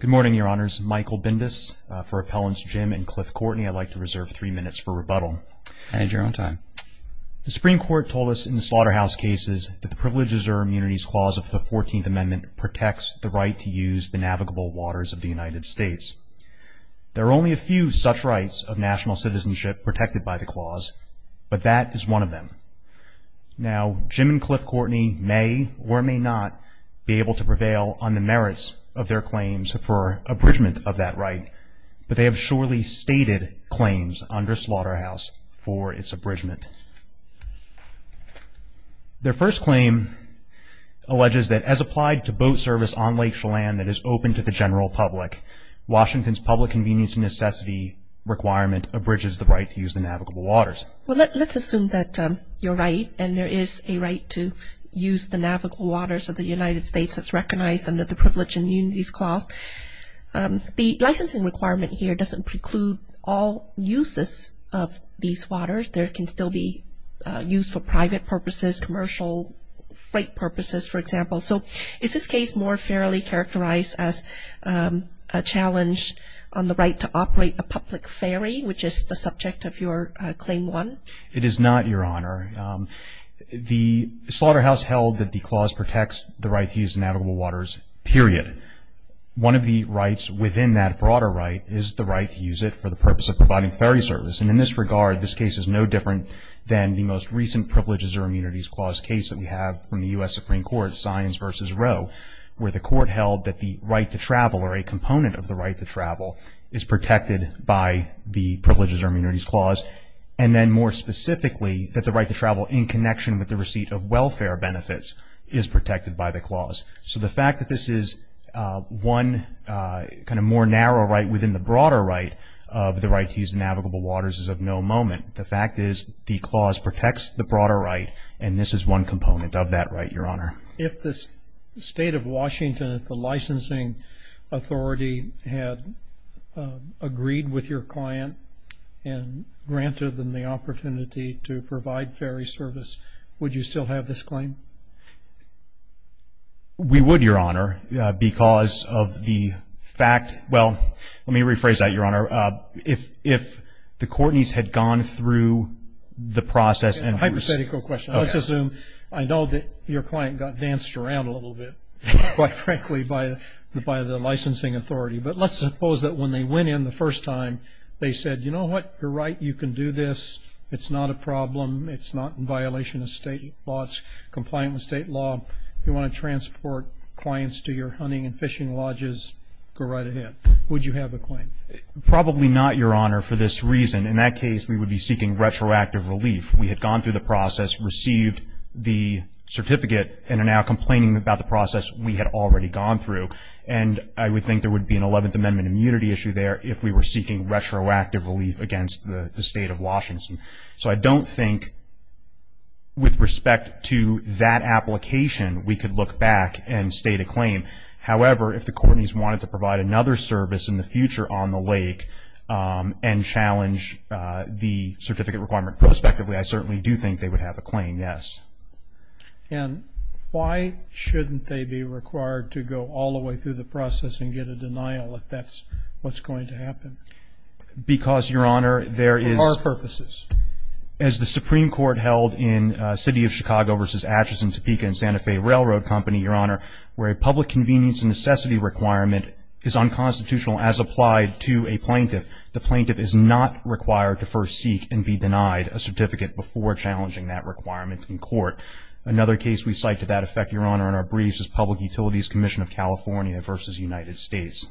Good morning, Your Honors. Michael Bindis for Appellants Jim and Cliff Courtney. I'd like to reserve three minutes for rebuttal. Add your own time. The Supreme Court told us in the Slaughterhouse cases that the Privileges or Immunities Clause of the 14th Amendment protects the right to use the navigable waters of the United States. There are only a few such rights of national citizenship protected by the clause, but that is one of them. Now, Jim and Cliff Courtney may or may not be able to prevail on the merits of their claims for abridgement of that right, but they have surely stated claims under Slaughterhouse for its abridgement. Their first claim alleges that as applied to boat service on Lake Chelan that is open to the general public, Washington's public convenience and necessity requirement abridges the right to use the navigable waters. Well, let's assume that you're right and there is a right to use the navigable waters of the United States that's recognized under the Privilege and Immunities Clause. The licensing requirement here doesn't preclude all uses of these waters. They can still be used for private purposes, commercial, freight purposes, for example. So is this case more fairly characterized as a challenge on the right to operate a public ferry, which is the subject of your Claim 1? It is not, Your Honor. The Slaughterhouse held that the clause protects the right to use the navigable waters, period. One of the rights within that broader right is the right to use it for the purpose of providing ferry service, and in this regard, this case is no different than the most recent Privileges or Immunities Clause case that we have from the U.S. Supreme Court, Sines v. Roe, where the Court held that the right to travel or a component of the right to travel is protected by the Privileges or Immunities Clause, and then more specifically that the right to travel in connection with the receipt of welfare benefits is protected by the clause. So the fact that this is one kind of more narrow right within the broader right of the right to use the navigable waters is of no moment. The fact is the clause protects the broader right, and this is one component of that right, Your Honor. If the State of Washington, if the licensing authority had agreed with your client and granted them the opportunity to provide ferry service, would you still have this claim? We would, Your Honor, because of the fact, well, let me rephrase that, Your Honor. If the Courtney's had gone through the process and... It's a hypothetical question. Let's assume I know that your client got danced around a little bit, quite frankly, by the licensing authority. But let's suppose that when they went in the first time, they said, you know what, you're right, you can do this. It's not a problem. It's not in violation of State laws, compliant with State law. If you want to transport clients to your hunting and fishing lodges, go right ahead. Would you have a claim? Probably not, Your Honor, for this reason. In that case, we would be seeking retroactive relief. We had gone through the process, received the certificate, and are now complaining about the process we had already gone through. And I would think there would be an Eleventh Amendment immunity issue there if we were seeking retroactive relief against the State of Washington. So I don't think, with respect to that application, we could look back and state a claim. However, if the court needs one to provide another service in the future on the lake and challenge the certificate requirement prospectively, I certainly do think they would have a claim, yes. And why shouldn't they be required to go all the way through the process and get a denial if that's what's going to happen? Because, Your Honor, there is – For what purposes? As the Supreme Court held in City of Chicago v. Atchison, Topeka, and Santa Fe Railroad Company, Your Honor, where a public convenience necessity requirement is unconstitutional as applied to a plaintiff. The plaintiff is not required to first seek and be denied a certificate before challenging that requirement in court. Another case we cite to that effect, Your Honor, in our briefs is Public Utilities Commission of California v. United States.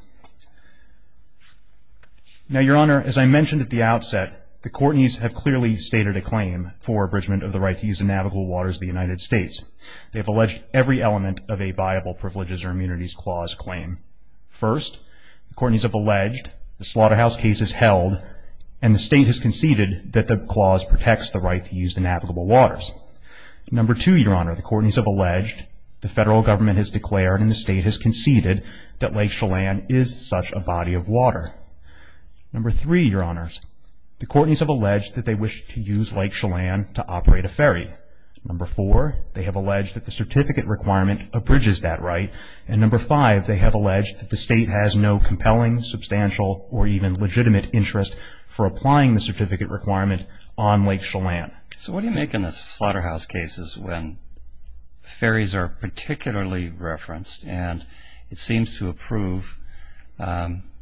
Now, Your Honor, as I mentioned at the outset, the court needs to have clearly stated a claim for abridgment of the right to use the navigable waters of the United States. They have alleged every element of a viable privileges or immunities clause claim. First, the court needs to have alleged the slaughterhouse case is held and the state has conceded that the clause protects the right to use the navigable waters. Number two, Your Honor, the court needs to have alleged the federal government has declared and the state has conceded that Lake Chelan is such a body of water. Number three, Your Honors, the court needs to have alleged that they wish to use Lake Chelan to operate a ferry. Number four, they have alleged that the certificate requirement abridges that right. And number five, they have alleged that the state has no compelling, substantial, or even legitimate interest for applying the certificate requirement on Lake Chelan. So what do you make in the slaughterhouse cases when ferries are particularly referenced and it seems to approve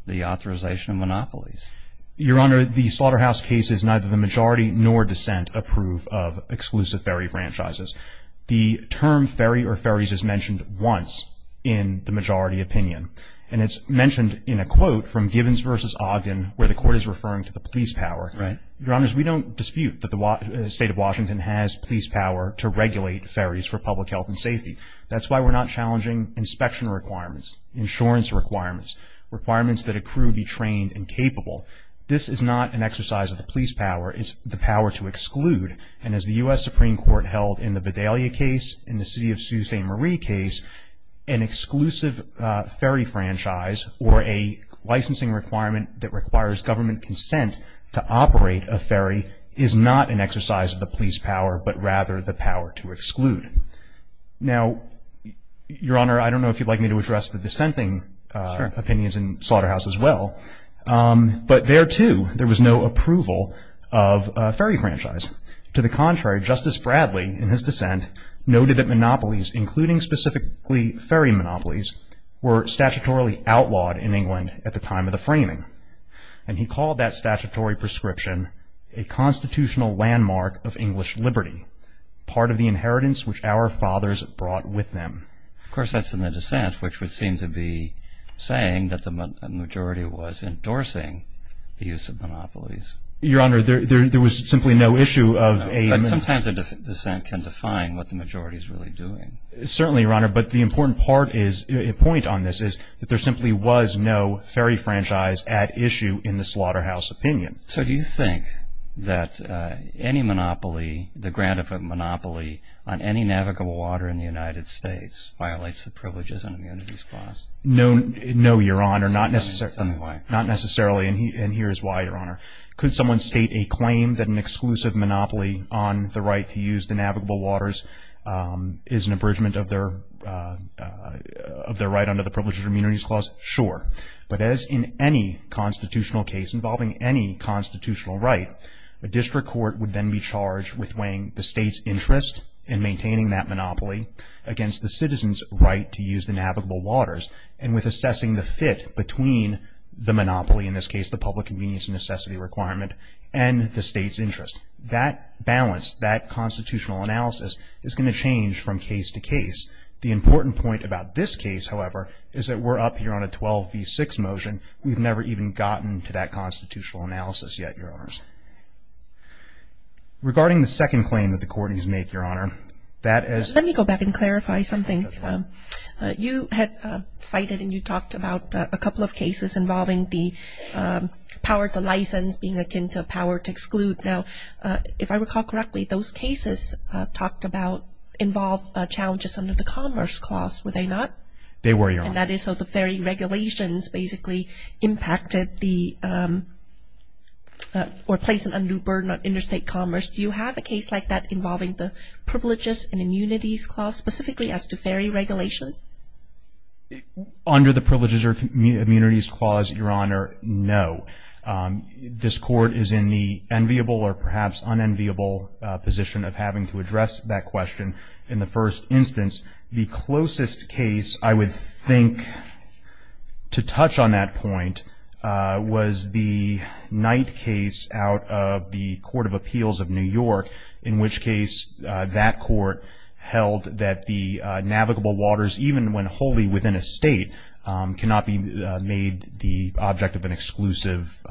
the authorization of monopolies? Your Honor, the slaughterhouse cases, neither the majority nor dissent approve of exclusive ferry franchises. The term ferry or ferries is mentioned once in the majority opinion. And it's mentioned in a quote from Gibbons v. Ogden where the court is referring to the police power. Right. Your Honors, we don't dispute that the state of Washington has police power to regulate ferries for public health and safety. That's why we're not challenging inspection requirements, insurance requirements, requirements that a crew be trained and capable This is not an exercise of the police power. It's the power to exclude. And as the U.S. Supreme Court held in the Vidalia case, in the city of Sault Ste. Marie case, an exclusive ferry franchise or a licensing requirement that requires government consent to operate a ferry is not an exercise of the police power, but rather the power to exclude. Now, Your Honor, I don't know if you'd like me to address the dissenting opinions in the slaughterhouse as well. But there, too, there was no approval of a ferry franchise. To the contrary, Justice Bradley, in his dissent, noted that monopolies, including specifically ferry monopolies, were statutorily outlawed in England at the time of the framing. And he called that statutory prescription a constitutional landmark of English liberty, part of the inheritance which our fathers brought with them. Of course, that's in the dissent, which would seem to be saying that the majority was endorsing the use of monopolies. Your Honor, there was simply no issue of a- But sometimes a dissent can define what the majority is really doing. Certainly, Your Honor, but the important point on this is that there simply was no ferry franchise at issue in the slaughterhouse opinion. So do you think that any monopoly, the grant of a monopoly on any navigable water in the United States, violates the privileges under the immunities clause? No, Your Honor, not necessarily. Tell me why. Not necessarily, and here is why, Your Honor. Could someone state a claim that an exclusive monopoly on the right to use the navigable waters is an abridgement of their right under the privileges of immunities clause? Sure. But as in any constitutional case involving any constitutional right, a district court would then be charged with weighing the state's interest in maintaining that monopoly against the citizen's right to use the navigable waters and with assessing the fit between the monopoly, in this case the public convenience and necessity requirement, and the state's interest. That balance, that constitutional analysis, is going to change from case to case. The important point about this case, however, is that we're up here on a 12 v. 6 motion. We've never even gotten to that constitutional analysis yet, Your Honors. Regarding the second claim that the court needs to make, Your Honor, that is... Let me go back and clarify something. You had cited and you talked about a couple of cases involving the power to license being akin to power to exclude. Now, if I recall correctly, those cases involved challenges under the commerce clause, were they not? They were, Your Honor. That is, so the ferry regulations basically impacted the... or placed a new burden on interstate commerce. Do you have a case like that involving the privileges and immunities clause specifically as to ferry regulation? Under the privileges or immunities clause, Your Honor, no. This court is in the enviable or perhaps unenviable position of having to address that question in the first instance. The closest case I would think to touch on that point was the Knight case out of the Court of Appeals of New York, in which case that court held that the navigable waters, even when wholly within a state, cannot be made the object of an exclusive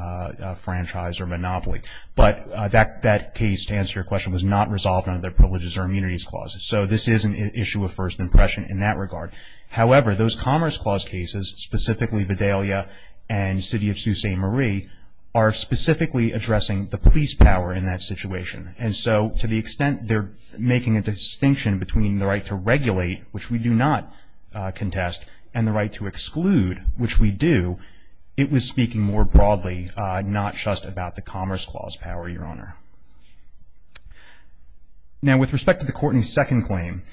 franchise or monopoly. But that case, to answer your question, was not resolved under the privileges or immunities clauses. So this is an issue of first impression in that regard. However, those commerce clause cases, specifically Vidalia and City of Sault Ste. Marie, are specifically addressing the police power in that situation. And so to the extent they're making a distinction between the right to regulate, which we do not contest, and the right to exclude, which we do, it was speaking more broadly, not just about the commerce clause power, Your Honor. Now, with respect to the Courtney's second claim,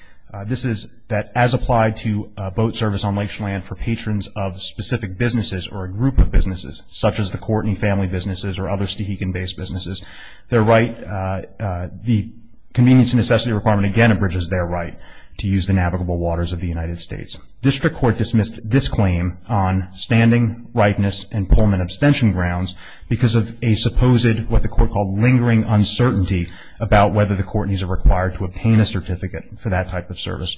this is that as applied to boat service on lakeshore land for patrons of specific businesses or a group of businesses, such as the Courtney family businesses or other Stehegan-based businesses, the convenience and necessity requirement again abridges their right to use the navigable waters of the United States. District Court dismissed this claim on standing, rightness, and Pullman abstention grounds because of a supposed what the Court called lingering uncertainty about whether the Courtney's are required to obtain a certificate for that type of service.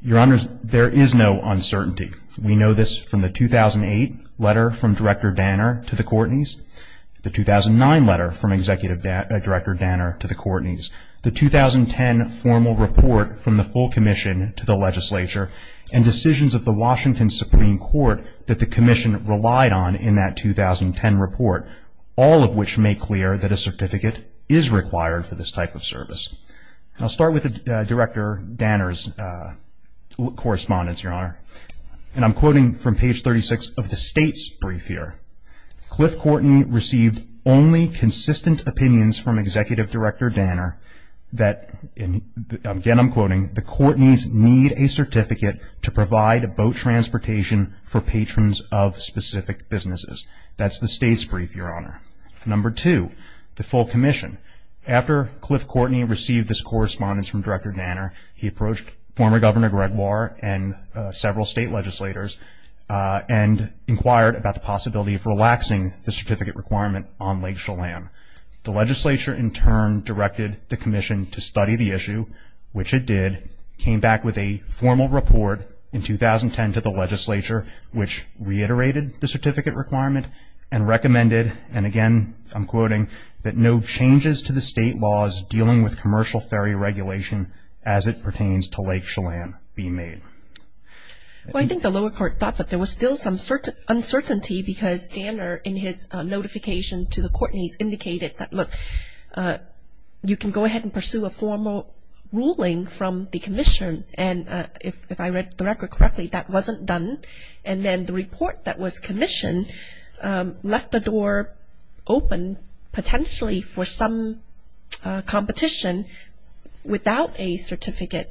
Your Honors, there is no uncertainty. We know this from the 2008 letter from Director Danner to the Courtney's, the 2009 letter from Executive Director Danner to the Courtney's, the 2010 formal report from the full commission to the legislature, and decisions of the Washington Supreme Court that the commission relied on in that 2010 report, all of which make clear that a certificate is required for this type of service. I'll start with Director Danner's correspondence, Your Honor, and I'm quoting from page 36 of the state's brief here. Cliff Courtney received only consistent opinions from Executive Director Danner that, again I'm quoting, the Courtney's need a certificate to provide boat transportation for patrons of specific businesses. That's the state's brief, Your Honor. Number two, the full commission. After Cliff Courtney received this correspondence from Director Danner, he approached former Governor Gregoire and several state legislators and inquired about the possibility of relaxing the certificate requirement on Lake Chelan. The legislature, in turn, directed the commission to study the issue, which it did, came back with a formal report in 2010 to the legislature, which reiterated the certificate requirement and recommended, and again I'm quoting, that no changes to the state laws dealing with commercial ferry regulation as it pertains to Lake Chelan be made. Well, I think the lower court thought that there was still some uncertainty because Danner, in his notification to the Courtney's, indicated that, look, you can go ahead and pursue a formal ruling from the commission. And if I read the record correctly, that wasn't done. And then the report that was commissioned left the door open, potentially for some competition without a certificate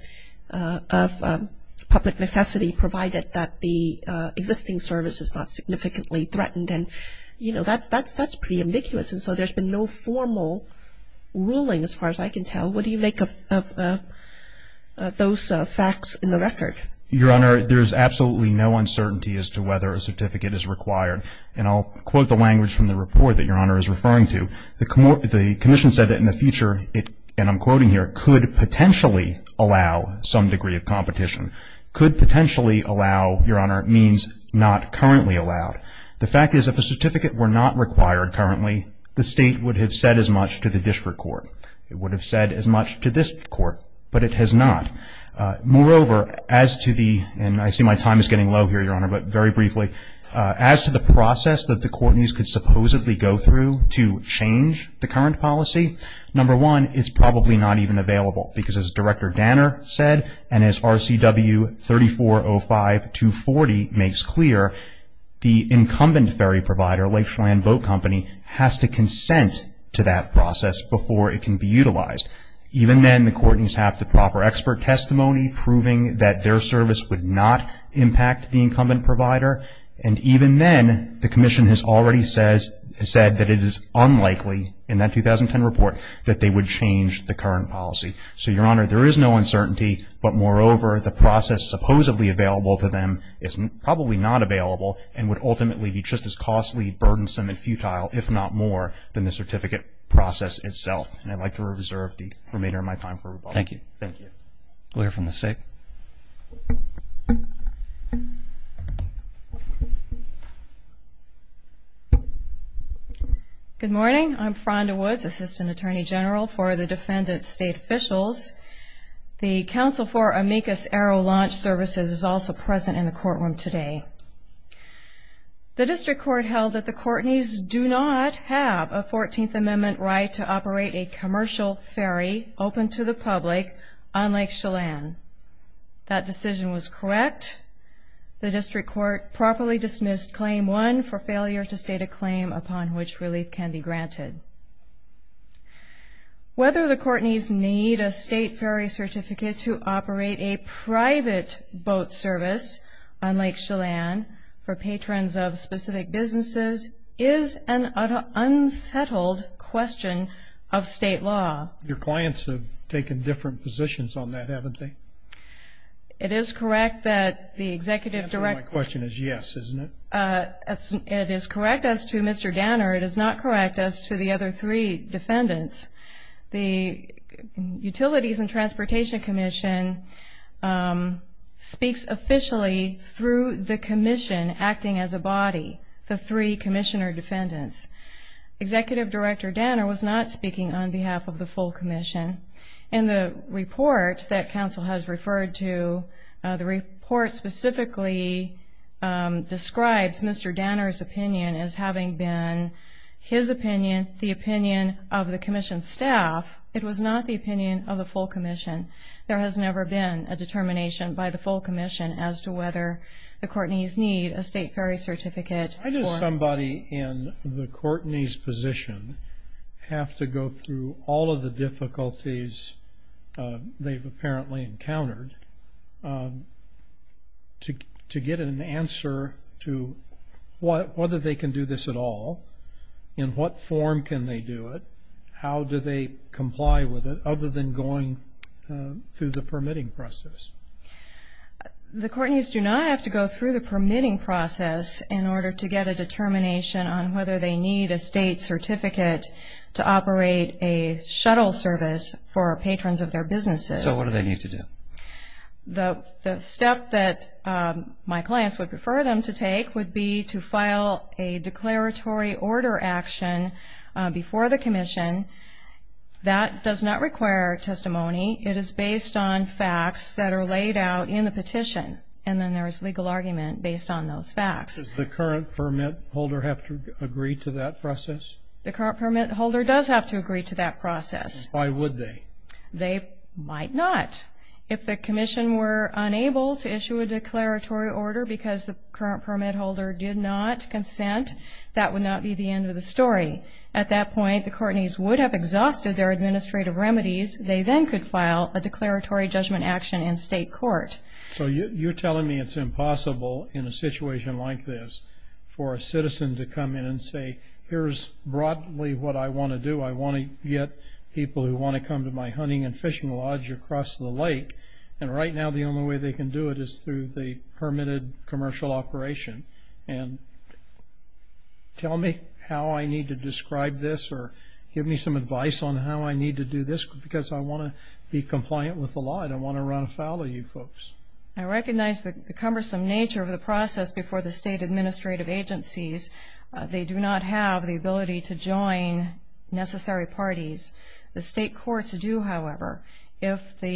of public necessity, provided that the existing service is not significantly threatened. And, you know, that's pretty ambiguous. And so there's been no formal ruling as far as I can tell. What do you make of those facts in the record? Your Honor, there's absolutely no uncertainty as to whether a certificate is required. And I'll quote the language from the report that Your Honor is referring to. The commission said that in the future, and I'm quoting here, could potentially allow some degree of competition. Could potentially allow, Your Honor, means not currently allowed. The fact is if a certificate were not required currently, the state would have said as much to the district court. It would have said as much to this court, but it has not. Moreover, as to the, and I see my time is getting low here, Your Honor, but very briefly, as to the process that the Courtney's could supposedly go through to change the current policy, number one, it's probably not even available because as Director Danner said and as RCW 3405-240 makes clear, the incumbent ferry provider, Lakeshore Land Boat Company, has to consent to that process before it can be utilized. Even then, the Courtneys have to offer expert testimony proving that their service would not impact the incumbent provider. And even then, the commission has already said that it is unlikely in that 2010 report that they would change the current policy. So, Your Honor, there is no uncertainty. But moreover, the process supposedly available to them is probably not available and would ultimately be just as costly, burdensome, and futile, if not more, than the certificate process itself. And I'd like to reserve the remainder of my time for rebuttal. Thank you. Thank you. We'll hear from the State. Good morning. I'm Fronda Woods, Assistant Attorney General for the Defendant State Officials. The counsel for Amicus Arrow Launch Services is also present in the courtroom today. The District Court held that the Courtneys do not have a 14th Amendment right to operate a commercial ferry open to the public on Lake Chelan. That decision was correct. The District Court properly dismissed Claim 1 for failure to state a claim upon which relief can be granted. Whether the Courtneys need a state ferry certificate to operate a private boat service on Lake Chelan for patrons of specific businesses is an unsettled question of state law. Your clients have taken different positions on that, haven't they? It is correct that the Executive Director... The answer to my question is yes, isn't it? It is correct as to Mr. Danner. It is not correct as to the other three defendants. The Utilities and Transportation Commission speaks officially through the commission acting as a body, the three commissioner defendants. Executive Director Danner was not speaking on behalf of the full commission. In the report that counsel has referred to, the report specifically describes Mr. Danner's opinion as having been his opinion, the opinion of the commission staff. It was not the opinion of the full commission. There has never been a determination by the full commission as to whether the Courtneys need a state ferry certificate. Why does somebody in the Courtney's position have to go through all of the difficulties they've apparently encountered to get an answer to whether they can do this at all? In what form can they do it? How do they comply with it other than going through the permitting process? The Courtneys do not have to go through the permitting process in order to get a determination on whether they need a state certificate to operate a shuttle service for patrons of their businesses. So what do they need to do? The step that my clients would prefer them to take would be to file a declaratory order action before the commission. That does not require testimony. It is based on facts that are laid out in the petition, and then there is legal argument based on those facts. Does the current permit holder have to agree to that process? The current permit holder does have to agree to that process. Why would they? They might not. If the commission were unable to issue a declaratory order because the current permit holder did not consent, that would not be the end of the story. At that point, the Courtneys would have exhausted their administrative remedies. They then could file a declaratory judgment action in state court. So you're telling me it's impossible in a situation like this for a citizen to come in and say, here's broadly what I want to do. I want to get people who want to come to my hunting and fishing lodge across the lake, and right now the only way they can do it is through the permitted commercial operation. And tell me how I need to describe this or give me some advice on how I need to do this, because I want to be compliant with the law and I want to run afoul of you folks. I recognize the cumbersome nature of the process before the state administrative agencies. They do not have the ability to join necessary parties. The state courts do, however. Well,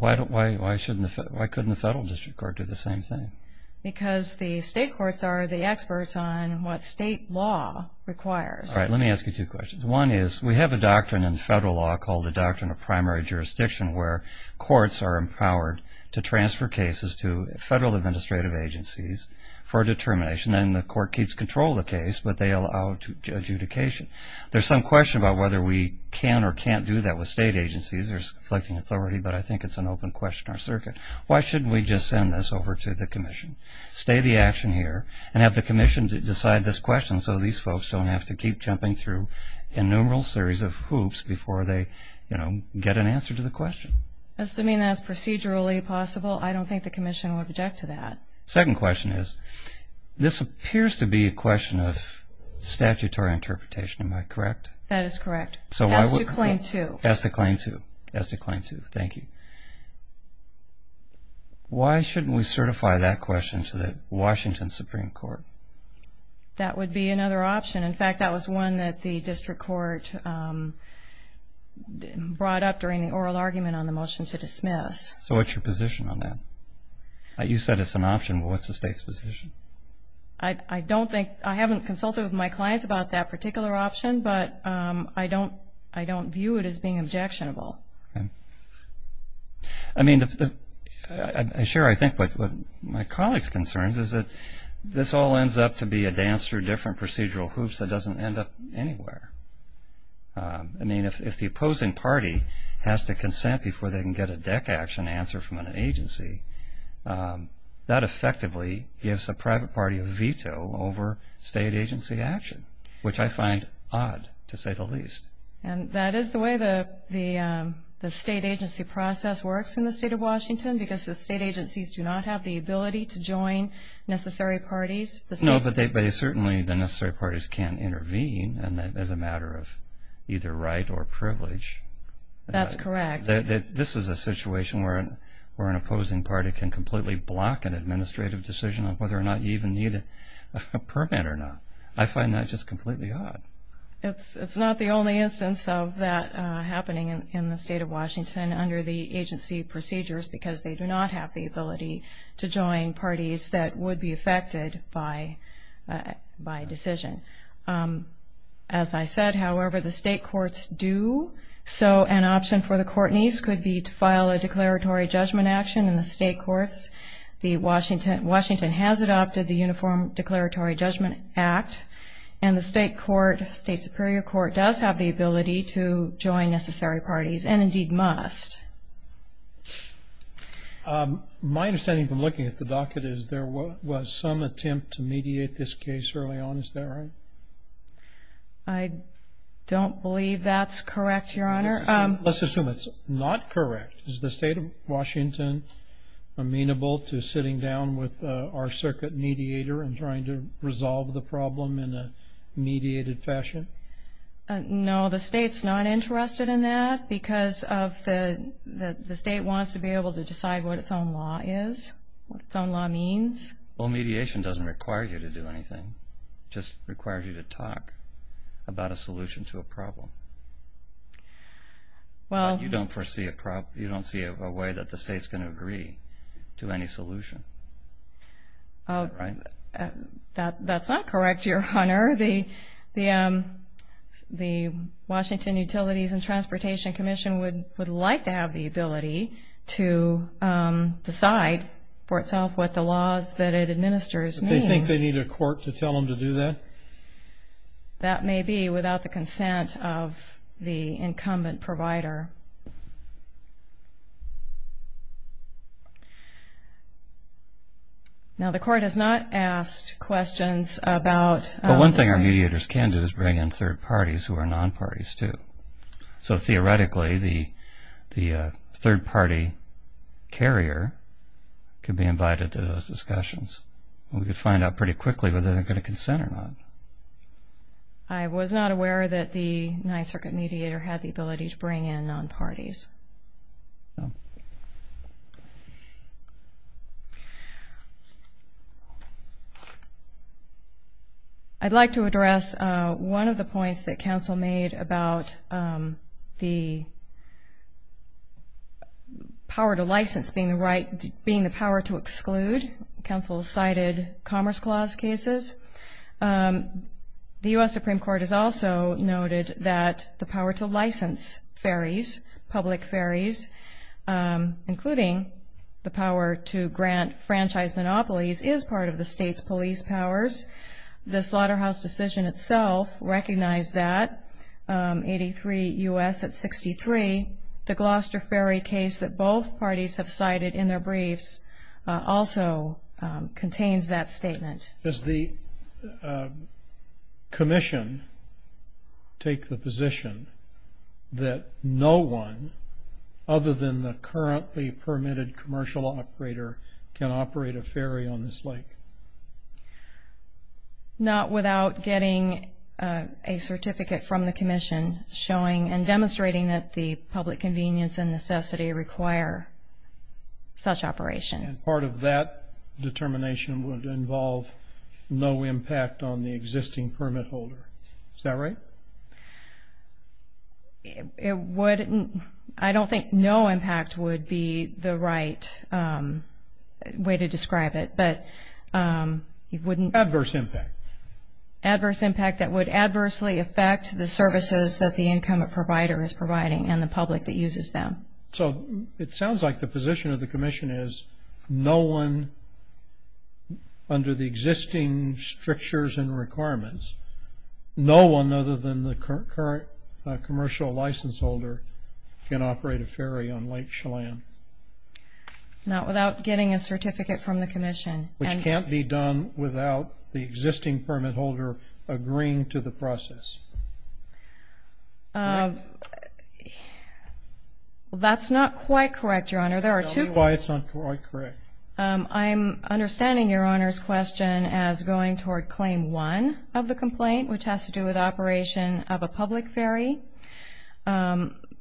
why couldn't the federal district court do the same thing? Because the state courts are the experts on what state law requires. All right. Let me ask you two questions. One is we have a doctrine in federal law called the Doctrine of Primary Jurisdiction where courts are empowered to transfer cases to federal administrative agencies for determination. Then the court keeps control of the case, but they allow adjudication. There's some question about whether we can or can't do that with state agencies. There's conflicting authority, but I think it's an open question in our circuit. Why shouldn't we just send this over to the commission? Stay the action here and have the commission decide this question so these folks don't have to keep jumping through innumerable series of hoops before they get an answer to the question. Assuming that's procedurally possible, I don't think the commission would object to that. Second question is this appears to be a question of statutory interpretation. Am I correct? That is correct. As to claim to. As to claim to. As to claim to. Thank you. Why shouldn't we certify that question to the Washington Supreme Court? That would be another option. In fact, that was one that the district court brought up during the oral argument on the motion to dismiss. So what's your position on that? You said it's an option, but what's the state's position? I haven't consulted with my clients about that particular option, but I don't view it as being objectionable. I mean, I share, I think, what my colleague's concerns is that this all ends up to be a dance through different procedural hoops that doesn't end up anywhere. I mean, if the opposing party has to consent before they can get a deck action answer from an agency, that effectively gives a private party a veto over state agency action, which I find odd to say the least. And that is the way the state agency process works in the state of Washington because the state agencies do not have the ability to join necessary parties? No, but certainly the necessary parties can intervene as a matter of either right or privilege. That's correct. This is a situation where an opposing party can completely block an administrative decision on whether or not you even need a permit or not. I find that just completely odd. It's not the only instance of that happening in the state of Washington under the agency procedures because they do not have the ability to join parties that would be affected by decision. As I said, however, the state courts do. So an option for the court needs could be to file a declaratory judgment action in the state courts. Washington has adopted the Uniform Declaratory Judgment Act, and the state court, state superior court, does have the ability to join necessary parties and indeed must. My understanding from looking at the docket is there was some attempt to mediate this case early on. Is that right? I don't believe that's correct, Your Honor. Let's assume it's not correct. Is the state of Washington amenable to sitting down with our circuit mediator and trying to resolve the problem in a mediated fashion? No, the state's not interested in that because the state wants to be able to decide what its own law is, what its own law means. Well, mediation doesn't require you to do anything. It just requires you to talk about a solution to a problem. You don't foresee a way that the state's going to agree to any solution. Is that right? That's not correct, Your Honor. The Washington Utilities and Transportation Commission would like to have the ability to decide for itself what the laws that it administers mean. Do they think they need a court to tell them to do that? That may be without the consent of the incumbent provider. Now, the court has not asked questions about... Well, one thing our mediators can do is bring in third parties who are non-parties too. So theoretically, the third-party carrier can be invited to those discussions. We could find out pretty quickly whether they're going to consent or not. I was not aware that the Ninth Circuit mediator had the ability to bring in non-parties. No. I'd like to address one of the points that counsel made about the power to license being the power to exclude. Counsel cited Commerce Clause cases. The U.S. Supreme Court has also noted that the power to license public ferries, including the power to grant franchise monopolies, is part of the state's police powers. The Slaughterhouse decision itself recognized that, 83 U.S. at 63. The Gloucester ferry case that both parties have cited in their briefs also contains that statement. Does the commission take the position that no one, other than the currently permitted commercial operator, can operate a ferry on this lake? Not without getting a certificate from the commission showing and demonstrating that the public convenience and necessity require such operation. And part of that determination would involve no impact on the existing permit holder. Is that right? I don't think no impact would be the right way to describe it. Adverse impact. Adverse impact that would adversely affect the services that the income provider is providing and the public that uses them. So it sounds like the position of the commission is no one, under the existing strictures and requirements, no one other than the current commercial license holder can operate a ferry on Lake Chelan. Not without getting a certificate from the commission. Which can't be done without the existing permit holder agreeing to the process. That's not quite correct, Your Honor. Tell me why it's not quite correct. I'm understanding Your Honor's question as going toward Claim 1 of the complaint, which has to do with operation of a public ferry.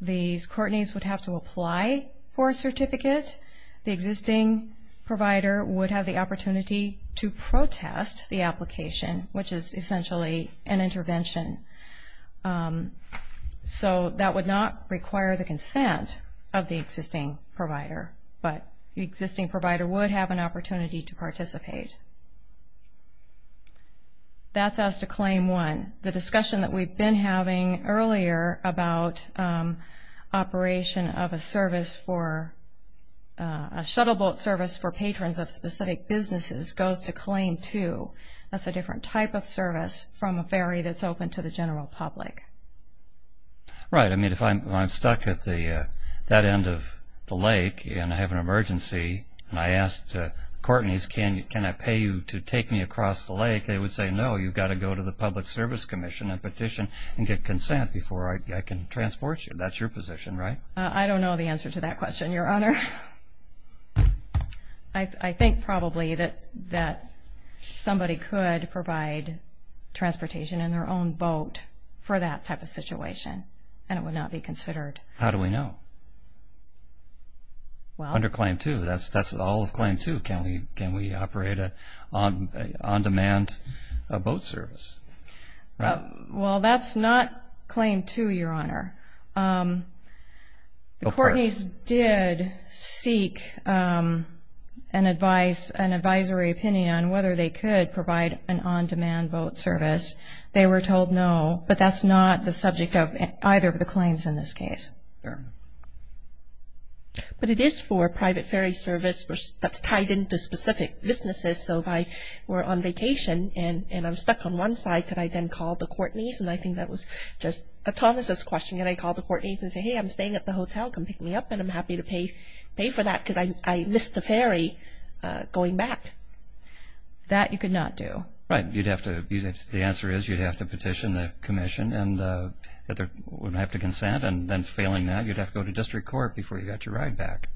These court needs would have to apply for a certificate. The existing provider would have the opportunity to protest the application, which is essentially an intervention. So that would not require the consent of the existing provider. But the existing provider would have an opportunity to participate. That's as to Claim 1. And the discussion that we've been having earlier about operation of a service for, a shuttle boat service for patrons of specific businesses goes to Claim 2. That's a different type of service from a ferry that's open to the general public. Right. I mean, if I'm stuck at that end of the lake and I have an emergency and I ask the courtneys, can I pay you to take me across the lake, they would say, no, you've got to go to the Public Service Commission and petition and get consent before I can transport you. That's your position, right? I don't know the answer to that question, Your Honor. I think probably that somebody could provide transportation in their own boat for that type of situation, and it would not be considered. How do we know? Under Claim 2. That's all of Claim 2. Can we operate an on-demand boat service? Well, that's not Claim 2, Your Honor. The courtneys did seek an advisory opinion on whether they could provide an on-demand boat service. They were told no, but that's not the subject of either of the claims in this case. Fair enough. But it is for a private ferry service that's tied into specific businesses. So if I were on vacation and I'm stuck on one side, could I then call the courtneys? And I think that was just Thomas' question. Could I call the courtneys and say, hey, I'm staying at the hotel, come pick me up, and I'm happy to pay for that because I missed the ferry going back? That you could not do. Right. The answer is you'd have to petition the commission and have to consent and then failing that you'd have to go to district court before you got your ride back.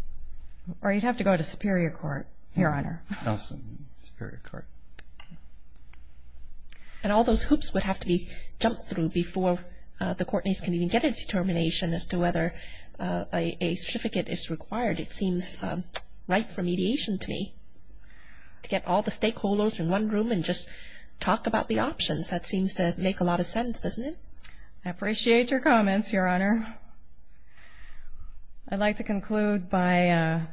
Or you'd have to go to superior court, Your Honor. Yes, superior court. And all those hoops would have to be jumped through before the courtneys can even get a determination as to whether a certificate is required. It seems right for mediation to me to get all the stakeholders in one room and just talk about the options. That seems to make a lot of sense, doesn't it? I appreciate your comments, Your Honor. I'd like to conclude by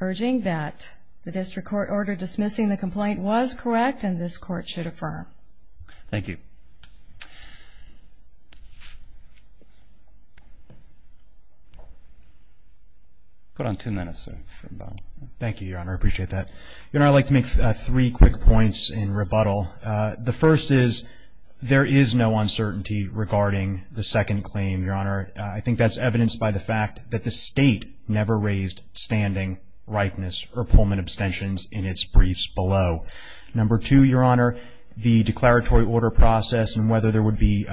urging that the district court order dismissing the complaint was correct and this court should affirm. Thank you. Put on two minutes. Thank you, Your Honor. I appreciate that. Your Honor, I'd like to make three quick points in rebuttal. The first is there is no uncertainty regarding the second claim, Your Honor. I think that's evidenced by the fact that the state never raised standing rightness or Pullman abstentions in its briefs below. Number two, Your Honor, the declaratory order process and whether there would be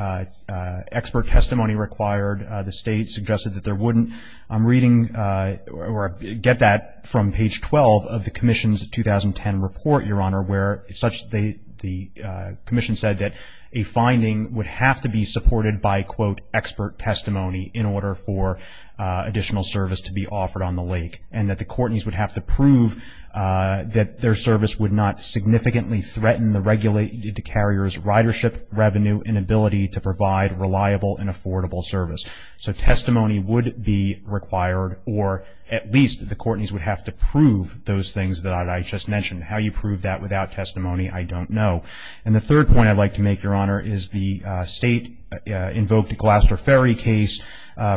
expert testimony required, the state suggested that there wouldn't. I'm reading or get that from page 12 of the commission's 2010 report, Your Honor, where the commission said that a finding would have to be supported by, quote, expert testimony in order for additional service to be offered on the lake and that the courtneys would have to prove that their service would not significantly threaten the regulated carrier's ridership, revenue, and ability to provide reliable and affordable service. So testimony would be required, or at least the courtneys would have to prove those things that I just mentioned, and how you prove that without testimony, I don't know. And the third point I'd like to make, Your Honor, is the state invoked a Gloucester Ferry case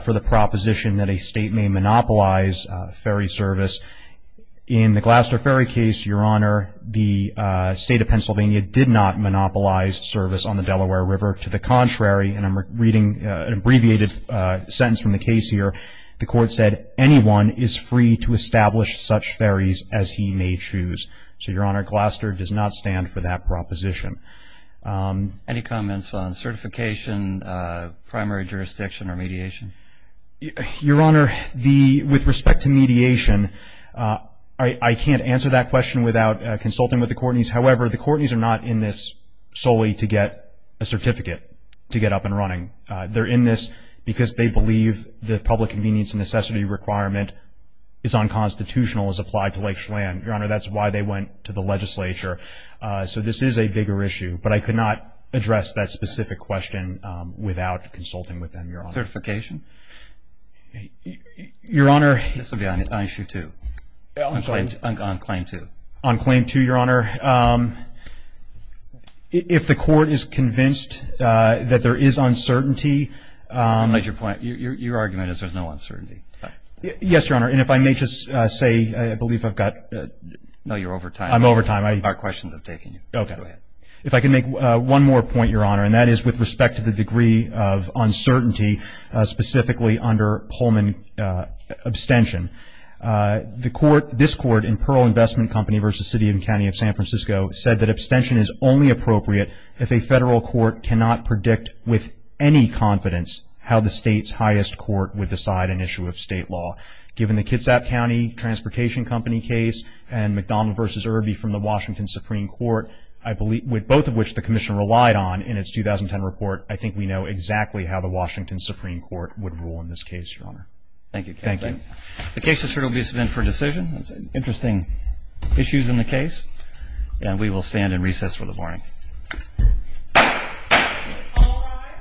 for the proposition that a state may monopolize ferry service. In the Gloucester Ferry case, Your Honor, the state of Pennsylvania did not monopolize service on the Delaware River. To the contrary, and I'm reading an abbreviated sentence from the case here, the court said anyone is free to establish such ferries as he may choose. So, Your Honor, Gloucester does not stand for that proposition. Any comments on certification, primary jurisdiction, or mediation? Your Honor, with respect to mediation, I can't answer that question without consulting with the courtneys. However, the courtneys are not in this solely to get a certificate to get up and running. They're in this because they believe the public convenience and necessity requirement is unconstitutional as applied to Lake Chelan. Your Honor, that's why they went to the legislature. So this is a bigger issue. But I could not address that specific question without consulting with them, Your Honor. Certification? Your Honor. This would be on issue two. I'm sorry. On claim two. On claim two, Your Honor. Your Honor, if the court is convinced that there is uncertainty. Your argument is there's no uncertainty. Yes, Your Honor. And if I may just say I believe I've got. No, you're over time. I'm over time. Our questions have taken you. Okay. Go ahead. If I can make one more point, Your Honor, and that is with respect to the degree of uncertainty specifically under Pullman abstention. This court in Pearl Investment Company v. City and County of San Francisco said that abstention is only appropriate if a federal court cannot predict with any confidence how the state's highest court would decide an issue of state law. Given the Kitsap County Transportation Company case and McDonald v. Irby from the Washington Supreme Court, both of which the commission relied on in its 2010 report, I think we know exactly how the Washington Supreme Court would rule in this case, Your Honor. Thank you. Thank you. The case is here to be submitted for decision. It's an interesting issue in the case, and we will stand in recess for the morning. All rise.